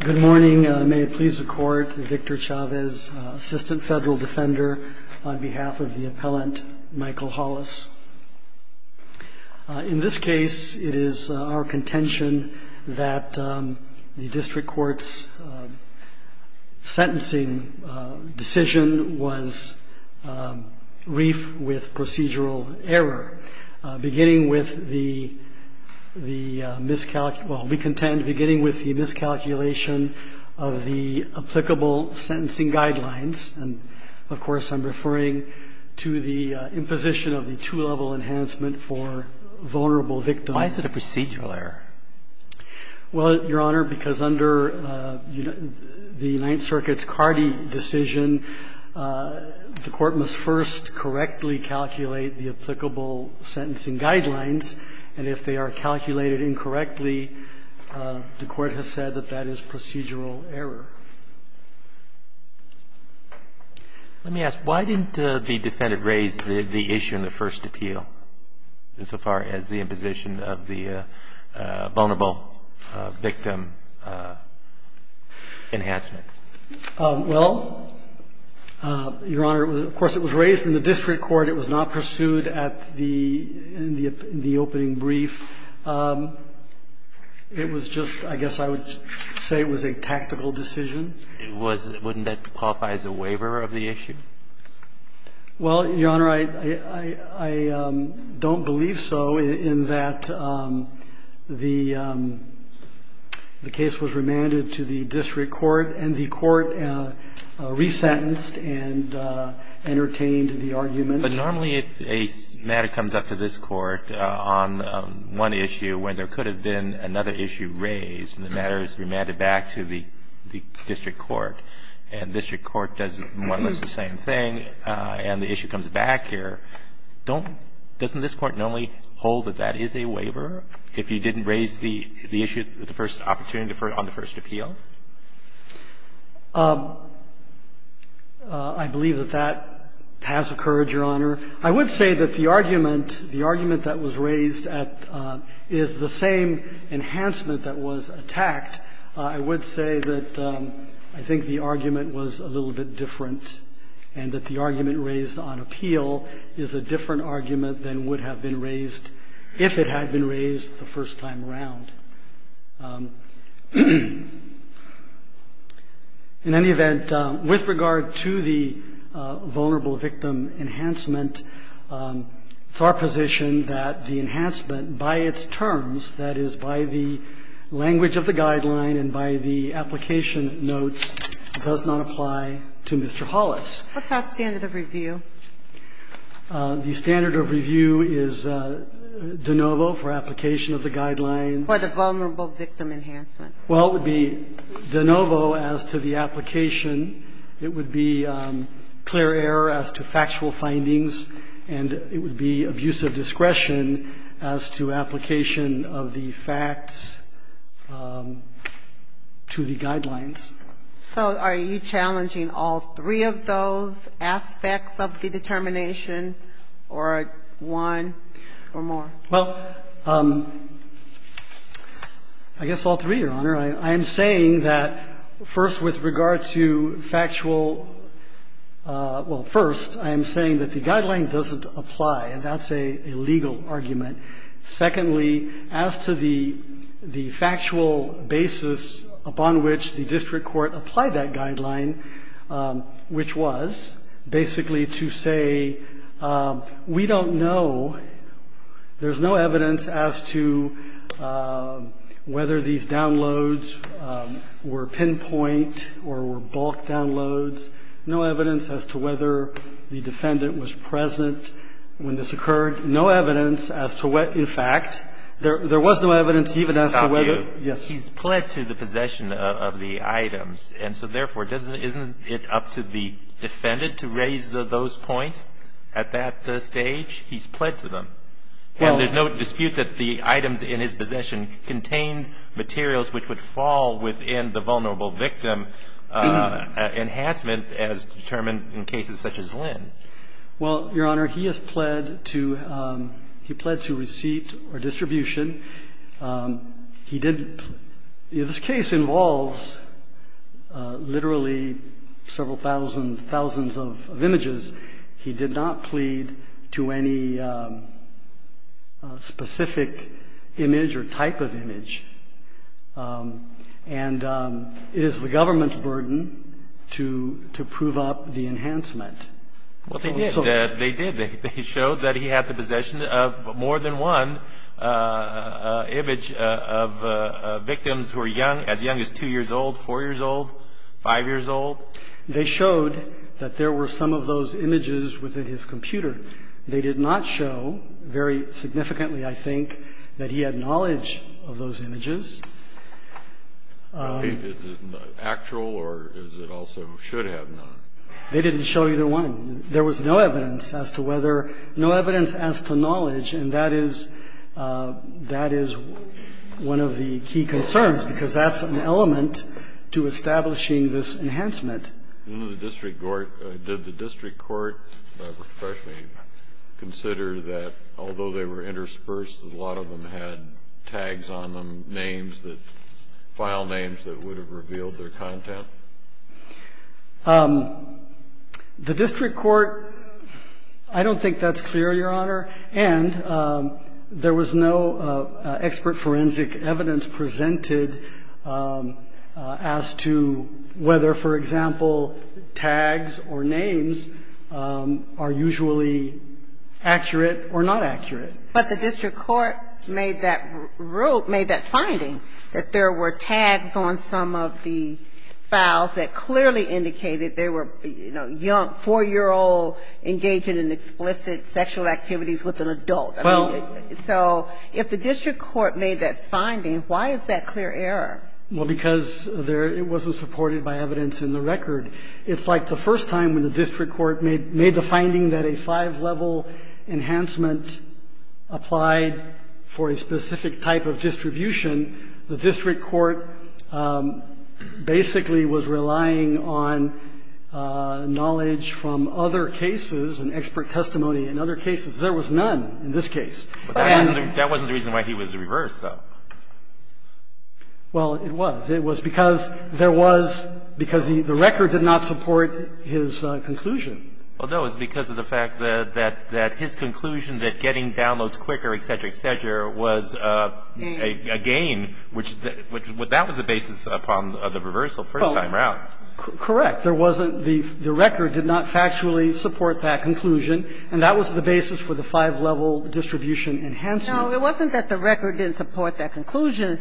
Good morning. May it please the court, Victor Chavez, assistant federal defender on behalf of the appellant Michael Hollis. In this case, it is our contention that the district court's sentencing decision was brief with procedural error, beginning with the miscalculation of the applicable sentencing guidelines. And, of course, I'm referring to the imposition of the two-level enhancement for vulnerable victims. Why is it a procedural error? Well, Your Honor, because under the Ninth Circuit's Cardi decision, the court must first correctly calculate the applicable sentencing guidelines. And if they are calculated incorrectly, the court has said that that is procedural error. Let me ask, why didn't the defendant raise the issue in the first appeal, insofar as the imposition of the vulnerable victim enhancement? Well, Your Honor, of course, it was raised in the district court. It was not pursued at the opening brief. It was just, I guess I would say it was a tactical decision. Wouldn't that qualify as a waiver of the issue? Well, Your Honor, I don't believe so, in that the case was remanded to the district court, and the court resentenced and entertained the argument. But normally, if a matter comes up to this court on one issue, when there could have been another issue raised, and the matter is remanded back to the district court, and district court does more or less the same thing, and the issue comes back here, don't – doesn't this court normally hold that that is a waiver if you I believe that that has occurred, Your Honor. I would say that the argument – the argument that was raised at – is the same enhancement that was attacked. I would say that I think the argument was a little bit different, and that the argument raised on appeal is a different argument than would have been raised if it had been raised the first time around. In any event, with regard to the vulnerable victim enhancement, it's our position that the enhancement, by its terms, that is, by the language of the guideline and by the application notes, does not apply to Mr. Hollis. What's our standard of review? The standard of review is de novo for application of the guideline. For the vulnerable victim enhancement. Well, it would be de novo as to the application. It would be clear error as to factual findings, and it would be abusive discretion as to application of the facts to the guidelines. So are you challenging all three of those aspects of the determination or one or more? Well, I guess all three, Your Honor. I am saying that, first, with regard to factual – well, first, I am saying that the guideline doesn't apply, and that's a legal argument. Secondly, as to the factual basis upon which the district court applied that guideline, which was basically to say we don't know, there's no evidence as to whether these downloads were pinpoint or were bulk downloads, no evidence as to whether the defendant was present when this occurred, no evidence as to what, in fact, there was no evidence even as to whether – Stop you. Yes. But he's pled to the possession of the items. And so, therefore, doesn't – isn't it up to the defendant to raise those points at that stage? He's pled to them. Well – And there's no dispute that the items in his possession contained materials which would fall within the vulnerable victim enhancement as determined in cases such as Lynn. Well, Your Honor, he has pled to – he pled to receipt or distribution. He didn't – this case involves literally several thousand, thousands of images. He did not plead to any specific image or type of image. And it is the government's burden to prove up the enhancement. Well, they did. They did. They showed that he had the possession of more than one image of victims who are young – as young as 2 years old, 4 years old, 5 years old. They showed that there were some of those images within his computer. They did not show very significantly, I think, that he had knowledge of those images. Is it actual or is it also should have known? They didn't show either one. There was no evidence as to whether – no evidence as to knowledge. And that is – that is one of the key concerns, because that's an element to establishing this enhancement. In the district court – did the district court professionally consider that although they were interspersed, a lot of them had tags on them, names that – file names that would have revealed their content? The district court – I don't think that's clear, Your Honor. And there was no expert forensic evidence presented as to whether, for example, tags or names are usually accurate or not accurate. But the district court made that finding, that there were tags on some of the files that clearly indicated they were, you know, young, 4-year-old, engaging in explicit sexual activities with an adult. I mean, so if the district court made that finding, why is that clear error? Well, because there – it wasn't supported by evidence in the record. It's like the first time when the district court made the finding that a five-level enhancement applied for a specific type of distribution, the district court basically was relying on knowledge from other cases and expert testimony in other cases. There was none in this case. But that wasn't the reason why he was reversed, though. Well, it was. It was because there was – because the record did not support his conclusion. Well, no. It was because of the fact that his conclusion that getting downloads quicker, et cetera, et cetera, was a gain, which – that was the basis upon the reversal first time around. Correct. There wasn't – the record did not factually support that conclusion, and that was the basis for the five-level distribution enhancement. No. It wasn't that the record didn't support that conclusion.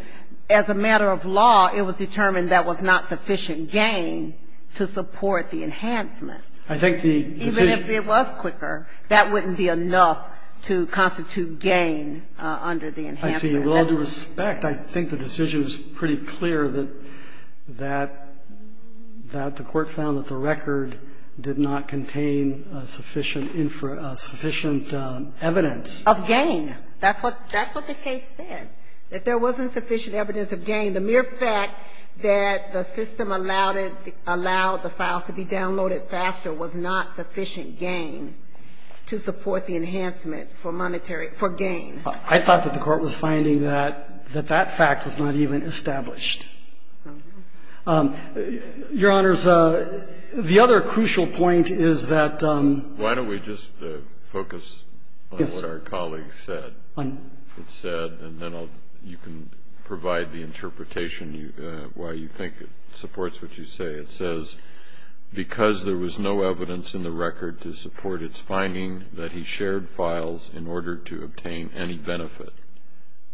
As a matter of law, it was determined that was not sufficient gain to support the enhancement. I think the decision – Even if it was quicker, that wouldn't be enough to constitute gain under the enhancement. With all due respect, I think the decision is pretty clear that the court found that the record did not contain sufficient evidence. Of gain. That's what the case said, that there wasn't sufficient evidence of gain. The mere fact that the system allowed the files to be downloaded faster was not sufficient gain to support the enhancement for monetary – for gain. I thought that the court was finding that that fact was not even established. Your Honors, the other crucial point is that – Why don't we just focus on what our colleague said? Yes. It said, and then I'll – you can provide the interpretation why you think it supports what you say. It says, Because there was no evidence in the record to support its finding that he shared files in order to obtain any benefit.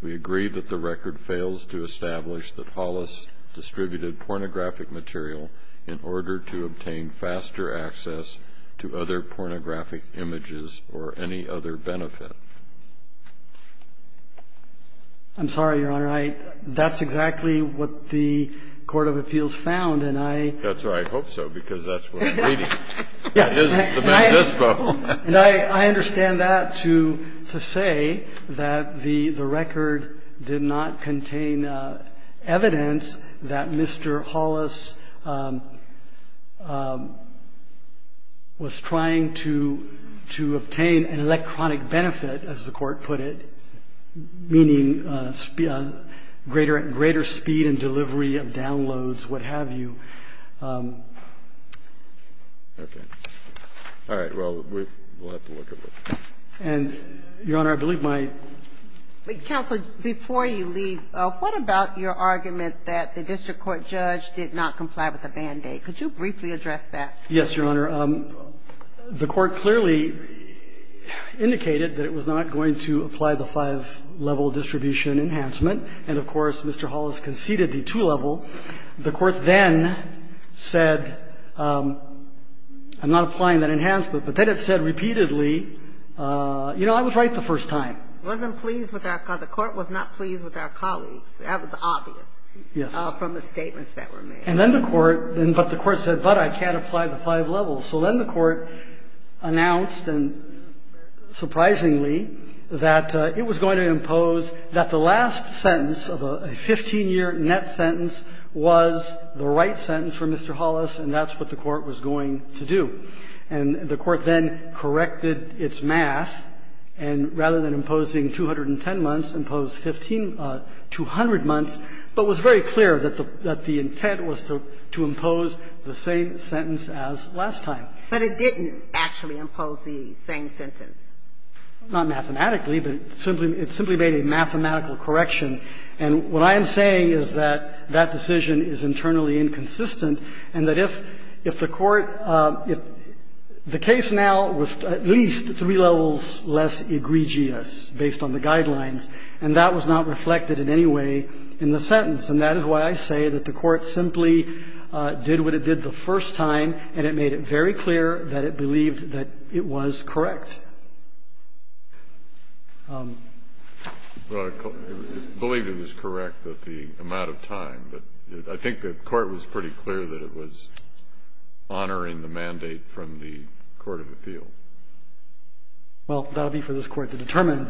We agree that the record fails to establish that Hollis distributed pornographic material in order to obtain faster access to other pornographic images or any other benefit. I'm sorry, Your Honor. I – that's exactly what the court of appeals found, and I – That's why I hope so, because that's what I'm reading. Yeah. It is the Mendispo. And I understand that to say that the record did not contain evidence that Mr. Hollis was trying to obtain an electronic benefit, as the court put it, meaning greater speed and delivery of downloads, what have you. Okay. All right. Well, we'll have to look at that. And, Your Honor, I believe my – Counsel, before you leave, what about your argument that the district court judge did not comply with the Band-Aid? Could you briefly address that? Yes, Your Honor. The court clearly indicated that it was not going to apply the five-level distribution enhancement. And, of course, Mr. Hollis conceded the two-level. The court then said – I'm not applying that enhancement, but then it said repeatedly, you know, I was right the first time. It wasn't pleased with our – the court was not pleased with our colleagues. That was obvious. Yes. From the statements that were made. And then the court – but the court said, but I can't apply the five levels. So then the court announced, and surprisingly, that it was going to impose that the last sentence of a 15-year net sentence was the right sentence for Mr. Hollis, and that's what the court was going to do. And the court then corrected its math, and rather than imposing 210 months, imposed 15 – 200 months, but was very clear that the intent was to impose the same sentence as last time. But it didn't actually impose the same sentence. Not mathematically, but it simply made a mathematical correction. And what I am saying is that that decision is internally inconsistent, and that if the court – if the case now was at least three levels less egregious based on the guidelines, and that was not reflected in any way in the sentence, and that is why I say that the court simply did what it did the first time, and it made it very clear that it believed that it was correct. Well, it believed it was correct that the amount of time, but I think the court was pretty clear that it was honoring the mandate from the court of appeal. Well, that will be for this Court to determine.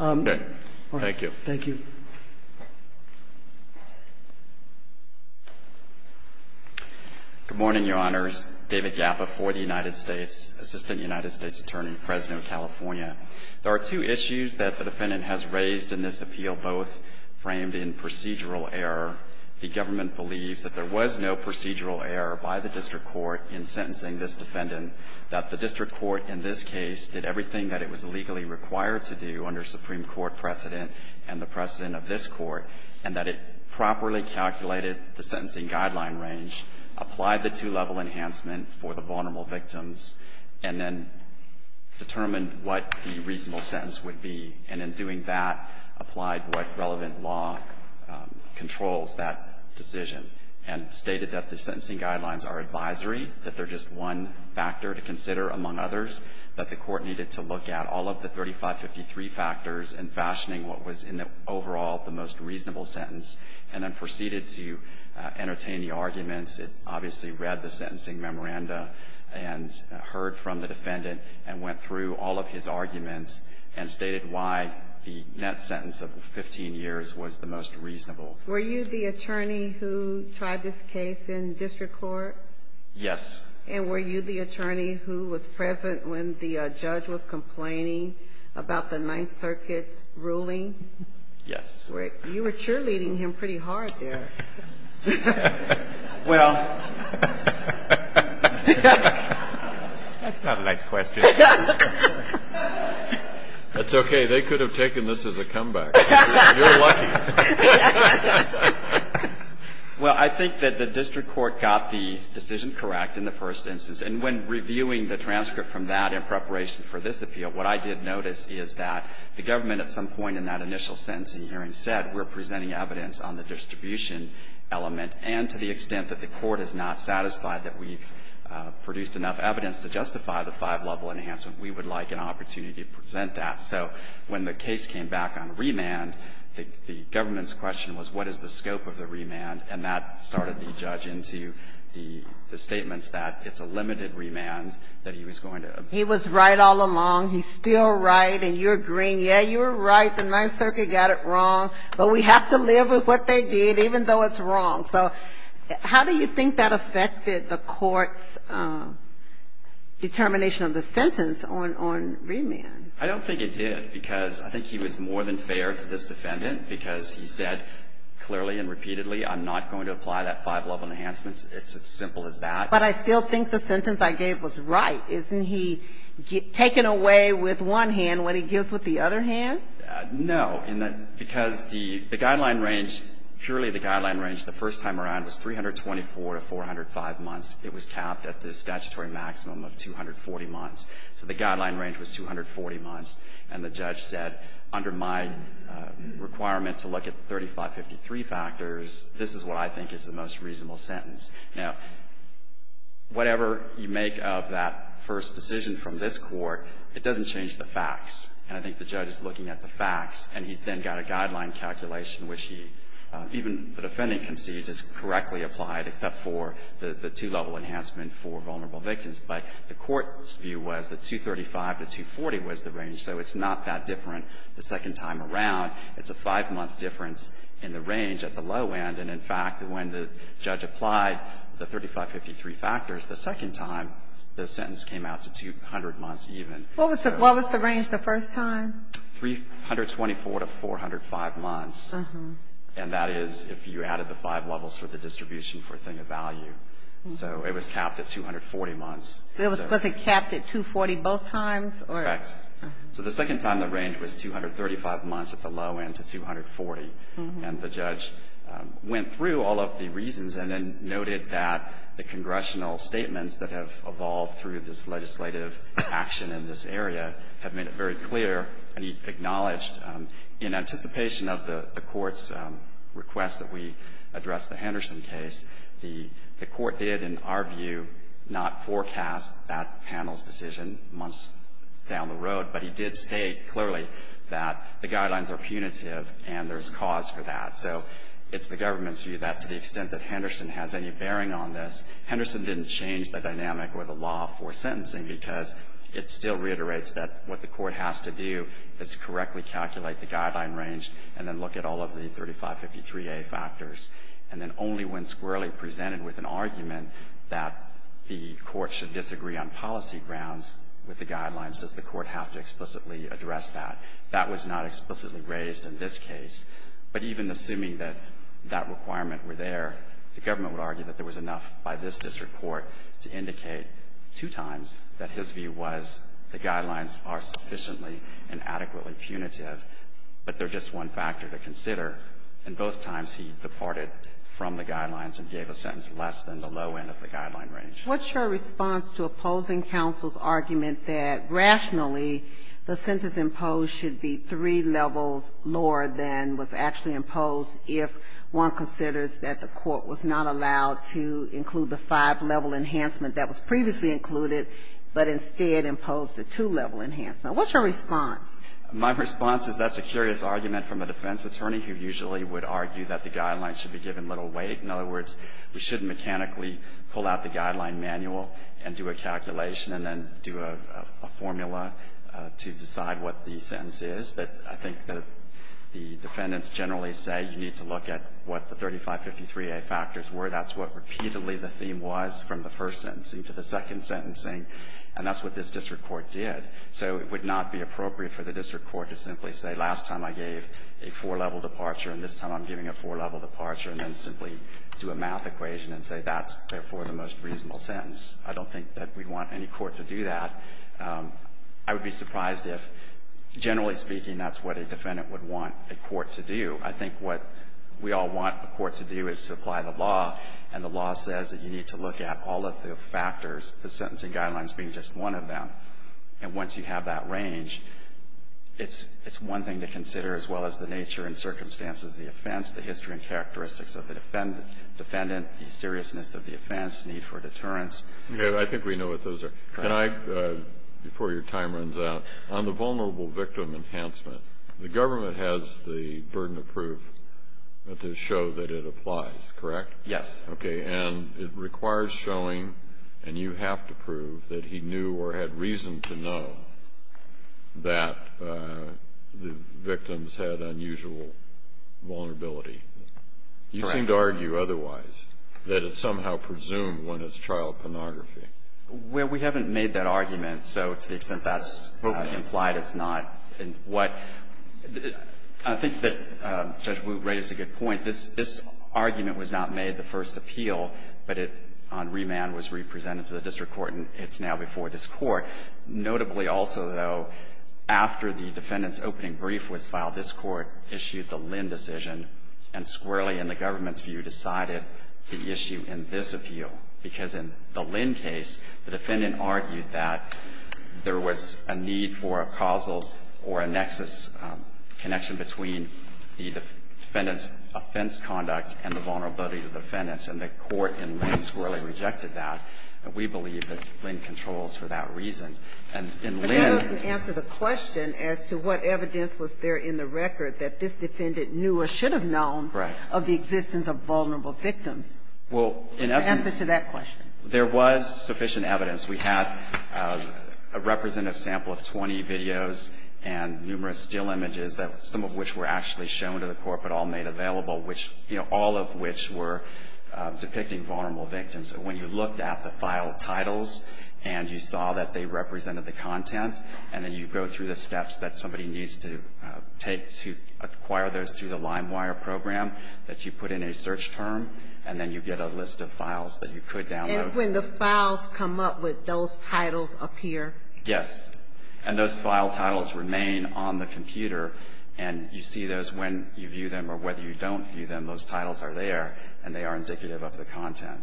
Okay. Thank you. Thank you. Good morning, Your Honors. David Gappa for the United States, Assistant United States Attorney, Fresno, California. There are two issues that the defendant has raised in this appeal, both framed in procedural error. The government believes that there was no procedural error by the district court in sentencing this defendant, that the district court in this case did everything that it was legally required to do under Supreme Court precedent and the precedent of this Court, and that it properly calculated the sentencing guideline range, applied the two-level enhancement for the vulnerable victims, and then determined what the reasonable sentence would be, and in doing that, applied what relevant law controls that decision, and stated that the sentencing guidelines are advisory, that they're just one factor to consider among others, that the court needed to look at all of the 3553 factors and fashioning what was in the overall the most reasonable sentence, and then proceeded to entertain the arguments. It obviously read the sentencing memoranda and heard from the defendant and went through all of his arguments and stated why the net sentence of 15 years was the most reasonable. Were you the attorney who tried this case in district court? Yes. And were you the attorney who was present when the judge was complaining about the Ninth Circuit's ruling? Yes. You were cheerleading him pretty hard there. Well, that's not a nice question. That's okay. They could have taken this as a comeback. You're lucky. Well, I think that the district court got the decision correct in the first instance. And when reviewing the transcript from that in preparation for this appeal, what I did notice is that the government at some point in that initial sentencing hearing said we're presenting evidence on the distribution element, and to the extent that the court is not satisfied that we've produced enough evidence to justify the five-level enhancement, we would like an opportunity to present that. So when the case came back on remand, the government's question was what is the scope of the remand? And that started the judge into the statements that it's a limited remand that he was going to appeal. He was right all along. He's still right. And you're agreeing. Yeah, you're right. The Ninth Circuit got it wrong. But we have to live with what they did, even though it's wrong. So how do you think that affected the court's determination of the sentence on remand? I don't think it did, because I think he was more than fair to this defendant, because he said clearly and repeatedly, I'm not going to apply that five-level enhancement. It's as simple as that. But I still think the sentence I gave was right. Isn't he taken away with one hand when he gives with the other hand? No. Because the guideline range, purely the guideline range, the first time around was 324 to 405 months. It was capped at the statutory maximum of 240 months. So the guideline range was 240 months. And the judge said, under my requirement to look at the 3553 factors, this is what I think is the most reasonable sentence. Now, whatever you make of that first decision from this Court, it doesn't change the facts. And I think the judge is looking at the facts. And he's then got a guideline calculation which he, even the defendant concedes is correctly applied, except for the two-level enhancement for vulnerable victims. But the Court's view was that 235 to 240 was the range. So it's not that different the second time around. It's a five-month difference in the range at the low end. And, in fact, when the judge applied the 3553 factors the second time, the sentence came out to 200 months even. What was the range the first time? 324 to 405 months. And that is if you added the five levels for the distribution for thing of value. So it was capped at 240 months. So was it capped at 240 both times or? Correct. So the second time the range was 235 months at the low end to 240. And the judge went through all of the reasons and then noted that the congressional statements that have evolved through this legislative action in this area have made it very clear and acknowledged in anticipation of the Court's request that we address the Henderson case, the Court did, in our view, not forecast that panel's decision months down the road, but he did state clearly that the guidelines are punitive and there's cause for that. So it's the government's view that to the extent that Henderson has any bearing on this, Henderson didn't change the dynamic or the law for sentencing because it still reiterates that what the Court has to do is correctly calculate the guideline range and then look at all of the 3553A factors. And then only when squarely presented with an argument that the Court should disagree on policy grounds with the guidelines does the Court have to explicitly address that. That was not explicitly raised in this case. But even assuming that that requirement were there, the government would argue that there was enough by this district court to indicate two times that his view was the guidelines are sufficiently and adequately punitive. But they're just one factor to consider. And both times he departed from the guidelines and gave a sentence less than the low end of the guideline range. What's your response to opposing counsel's argument that rationally the sentence imposed should be three levels lower than was actually imposed if one considers that the Court was not allowed to include the five-level enhancement that was previously included, but instead imposed a two-level enhancement? What's your response? My response is that's a curious argument from a defense attorney who usually would argue that the guidelines should be given little weight. In other words, we shouldn't mechanically pull out the guideline manual and do a calculation and then do a formula to decide what the sentence is. But I think that the defendants generally say you need to look at what the 3553A factors were. That's what repeatedly the theme was from the first sentencing to the second sentencing. And that's what this district court did. So it would not be appropriate for the district court to simply say last time I gave a four-level departure and this time I'm giving a four-level departure, and then simply do a math equation and say that's, therefore, the most reasonable sentence. I don't think that we'd want any court to do that. I would be surprised if, generally speaking, that's what a defendant would want a court to do. I think what we all want a court to do is to apply the law, and the law says that you need to look at all of the factors, the sentencing guidelines being just one of them. And once you have that range, it's one thing to consider as well as the nature and circumstances of the offense, the history and characteristics of the defendant, the seriousness of the offense, need for deterrence. I think we know what those are. Can I, before your time runs out, on the vulnerable victim enhancement, the government has the burden of proof to show that it applies, correct? Yes. Okay. And it requires showing, and you have to prove, that he knew or had reason to know that the victims had unusual vulnerability. Correct. You seem to argue otherwise, that it's somehow presumed when it's child pornography. Well, we haven't made that argument, so to the extent that's implied, it's not. And what the – I think that Judge Wu raises a good point. I think this argument was not made the first appeal, but it, on remand, was re-presented to the district court, and it's now before this Court. Notably also, though, after the defendant's opening brief was filed, this Court issued the Lynn decision and squarely, in the government's view, decided the issue in this appeal. Because in the Lynn case, the defendant argued that there was a need for a causal or a nexus connection between the defendant's offense conduct and the vulnerability to the defendants, and the Court in Lynn squarely rejected that. And we believe that Lynn controls for that reason. And in Lynn – But that doesn't answer the question as to what evidence was there in the record that this defendant knew or should have known of the existence of vulnerable victims. Well, in essence – Answer to that question. There was sufficient evidence. We had a representative sample of 20 videos and numerous still images, some of which were actually shown to the Court but all made available, which, you know, all of which were depicting vulnerable victims. And when you looked at the file titles and you saw that they represented the content, and then you go through the steps that somebody needs to take to acquire those through the LimeWire program, that you put in a search term, and then you get a list of files that you could download. And when the files come up, would those titles appear? Yes. And those file titles remain on the computer, and you see those when you view them or whether you don't view them, those titles are there, and they are indicative of the content.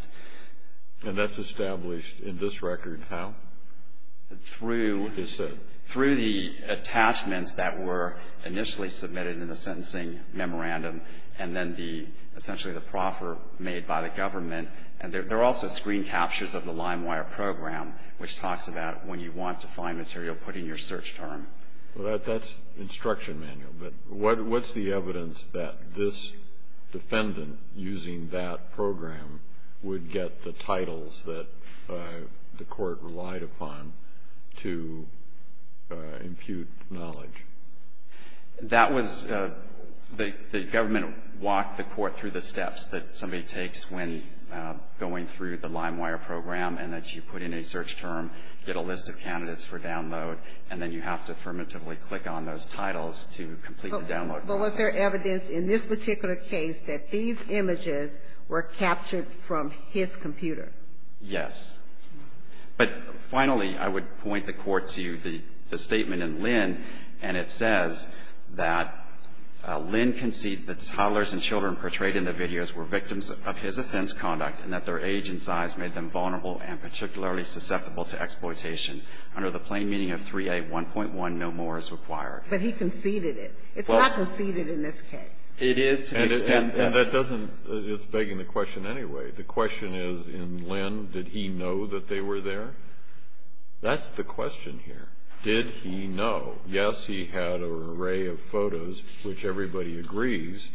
And that's established in this record how? Through – What is said? Through the attachments that were initially submitted in the sentencing memorandum and then the – essentially the proffer made by the government. And there are also screen captures of the LimeWire program, which talks about when you want to find material, put in your search term. Well, that's instruction manual. But what's the evidence that this defendant, using that program, would get the titles that the Court relied upon to impute knowledge? That was – the government walked the Court through the steps that somebody takes when going through the LimeWire program, and that you put in a search term, get a list of candidates for download, and then you have to affirmatively click on those titles to complete the download process. But was there evidence in this particular case that these images were captured from his computer? Yes. But finally, I would point the Court to the statement in Lynn, and it says that Lynn concedes that toddlers and children portrayed in the videos were victims of his offense conduct and that their age and size made them vulnerable and particularly susceptible to exploitation. Under the plain meaning of 3A1.1, no more is required. But he conceded it. It's not conceded in this case. It is to the extent that – And that doesn't – it's begging the question anyway. The question is, in Lynn, did he know that they were there? That's the question here. Did he know? Yes, he had an array of photos, which everybody agrees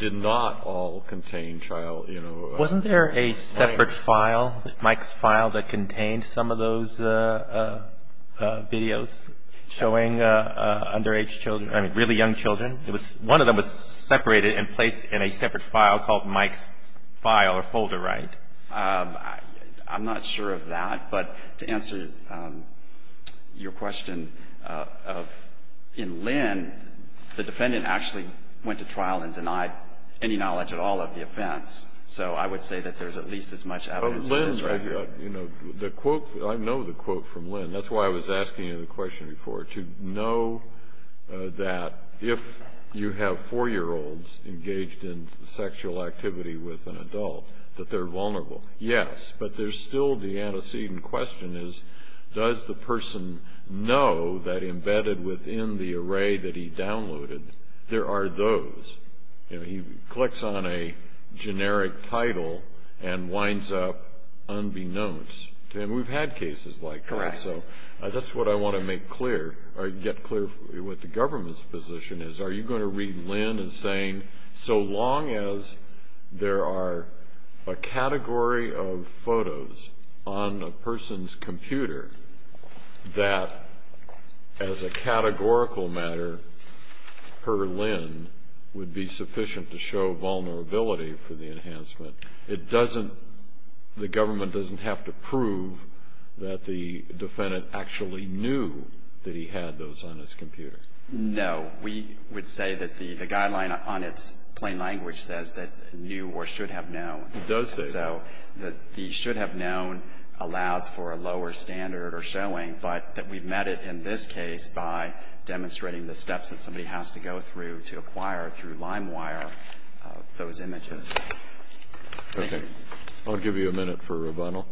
did not all contain child – Wasn't there a separate file, Mike's file, that contained some of those videos showing underage children – I mean, really young children? It was – one of them was separated and placed in a separate file called Mike's file or folder, right? I'm not sure of that. But to answer your question of – in Lynn, the defendant actually went to trial and denied any knowledge at all of the offense. So I would say that there's at least as much evidence in this record. Lynn – you know, the quote – I know the quote from Lynn. That's why I was asking you the question before, to know that if you have 4-year-olds engaged in sexual activity with an adult, that they're vulnerable. Yes, but there's still the antecedent question is, does the person know that embedded within the array that he downloaded, there are those? You know, he clicks on a generic title and winds up unbeknownst. And we've had cases like that. Correct. So that's what I want to make clear – or get clear with the government's position is, are you going to read Lynn as saying, so long as there are a category of photos on a person's computer that, as a categorical matter, per Lynn, would be sufficient to show vulnerability for the enhancement? It doesn't – the government doesn't have to prove that the defendant actually knew that he had those on his computer. No. We would say that the guideline on its plain language says that knew or should have known. It does say that. So the should have known allows for a lower standard or showing, but that we've met it in this case by demonstrating the steps that somebody has to go through to acquire through LimeWire those images. Okay. I'll give you a minute for rebuttal.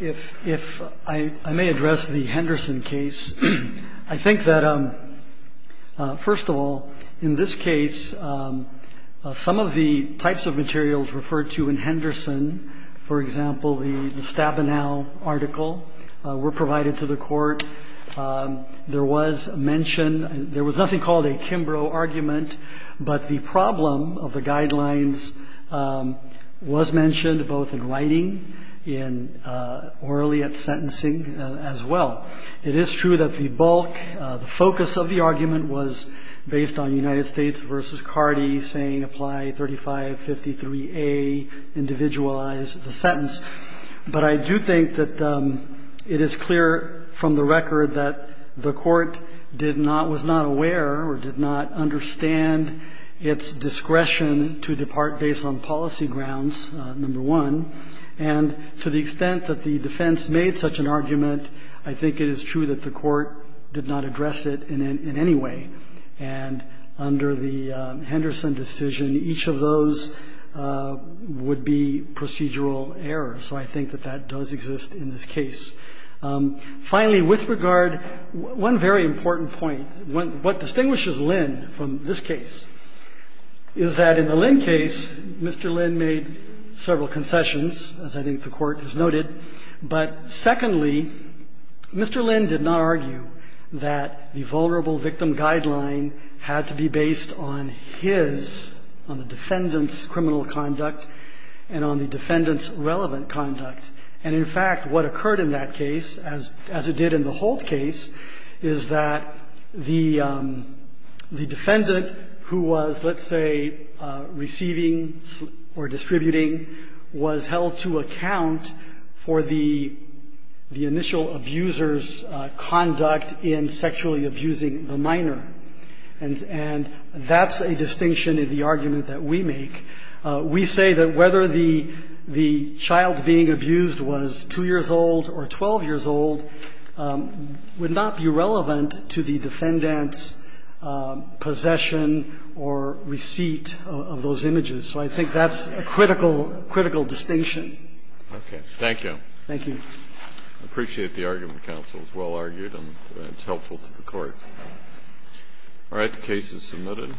If I may address the Henderson case, I think that, first of all, in this case, some of the types of materials referred to in Henderson – for example, the Stabenow article were provided to the court. There was mention – there was nothing called a Kimbrough argument, but the problem of the guidelines was mentioned both in writing and orally at sentencing as well. It is true that the bulk – the focus of the argument was based on United States v. Cardi saying apply 3553A, individualize the sentence. But I do think that it is clear from the record that the court did not – was not aware or did not understand its discretion to depart based on policy grounds, number one. And to the extent that the defense made such an argument, I think it is true that the court did not address it in any way. And under the Henderson decision, each of those would be procedural errors. So I think that that does exist in this case. Finally, with regard – one very important point, what distinguishes Lynn from this case is that in the Lynn case, Mr. Lynn made several concessions, as I think the court has noted. But secondly, Mr. Lynn did not argue that the vulnerable victim guideline had to be based on his – on the defendant's criminal conduct and on the defendant's relevant conduct. And in fact, what occurred in that case, as it did in the Holt case, is that the defendant who was, let's say, receiving or distributing, was held to account for the initial abuser's conduct in sexually abusing the minor. And that's a distinction in the argument that we make. We say that whether the child being abused was 2 years old or 12 years old would not be relevant to the defendant's possession or receipt of those images. So I think that's a critical distinction. Okay. Thank you. Thank you. I appreciate the argument, counsel. It was well-argued and it's helpful to the Court. All right. The case is submitted.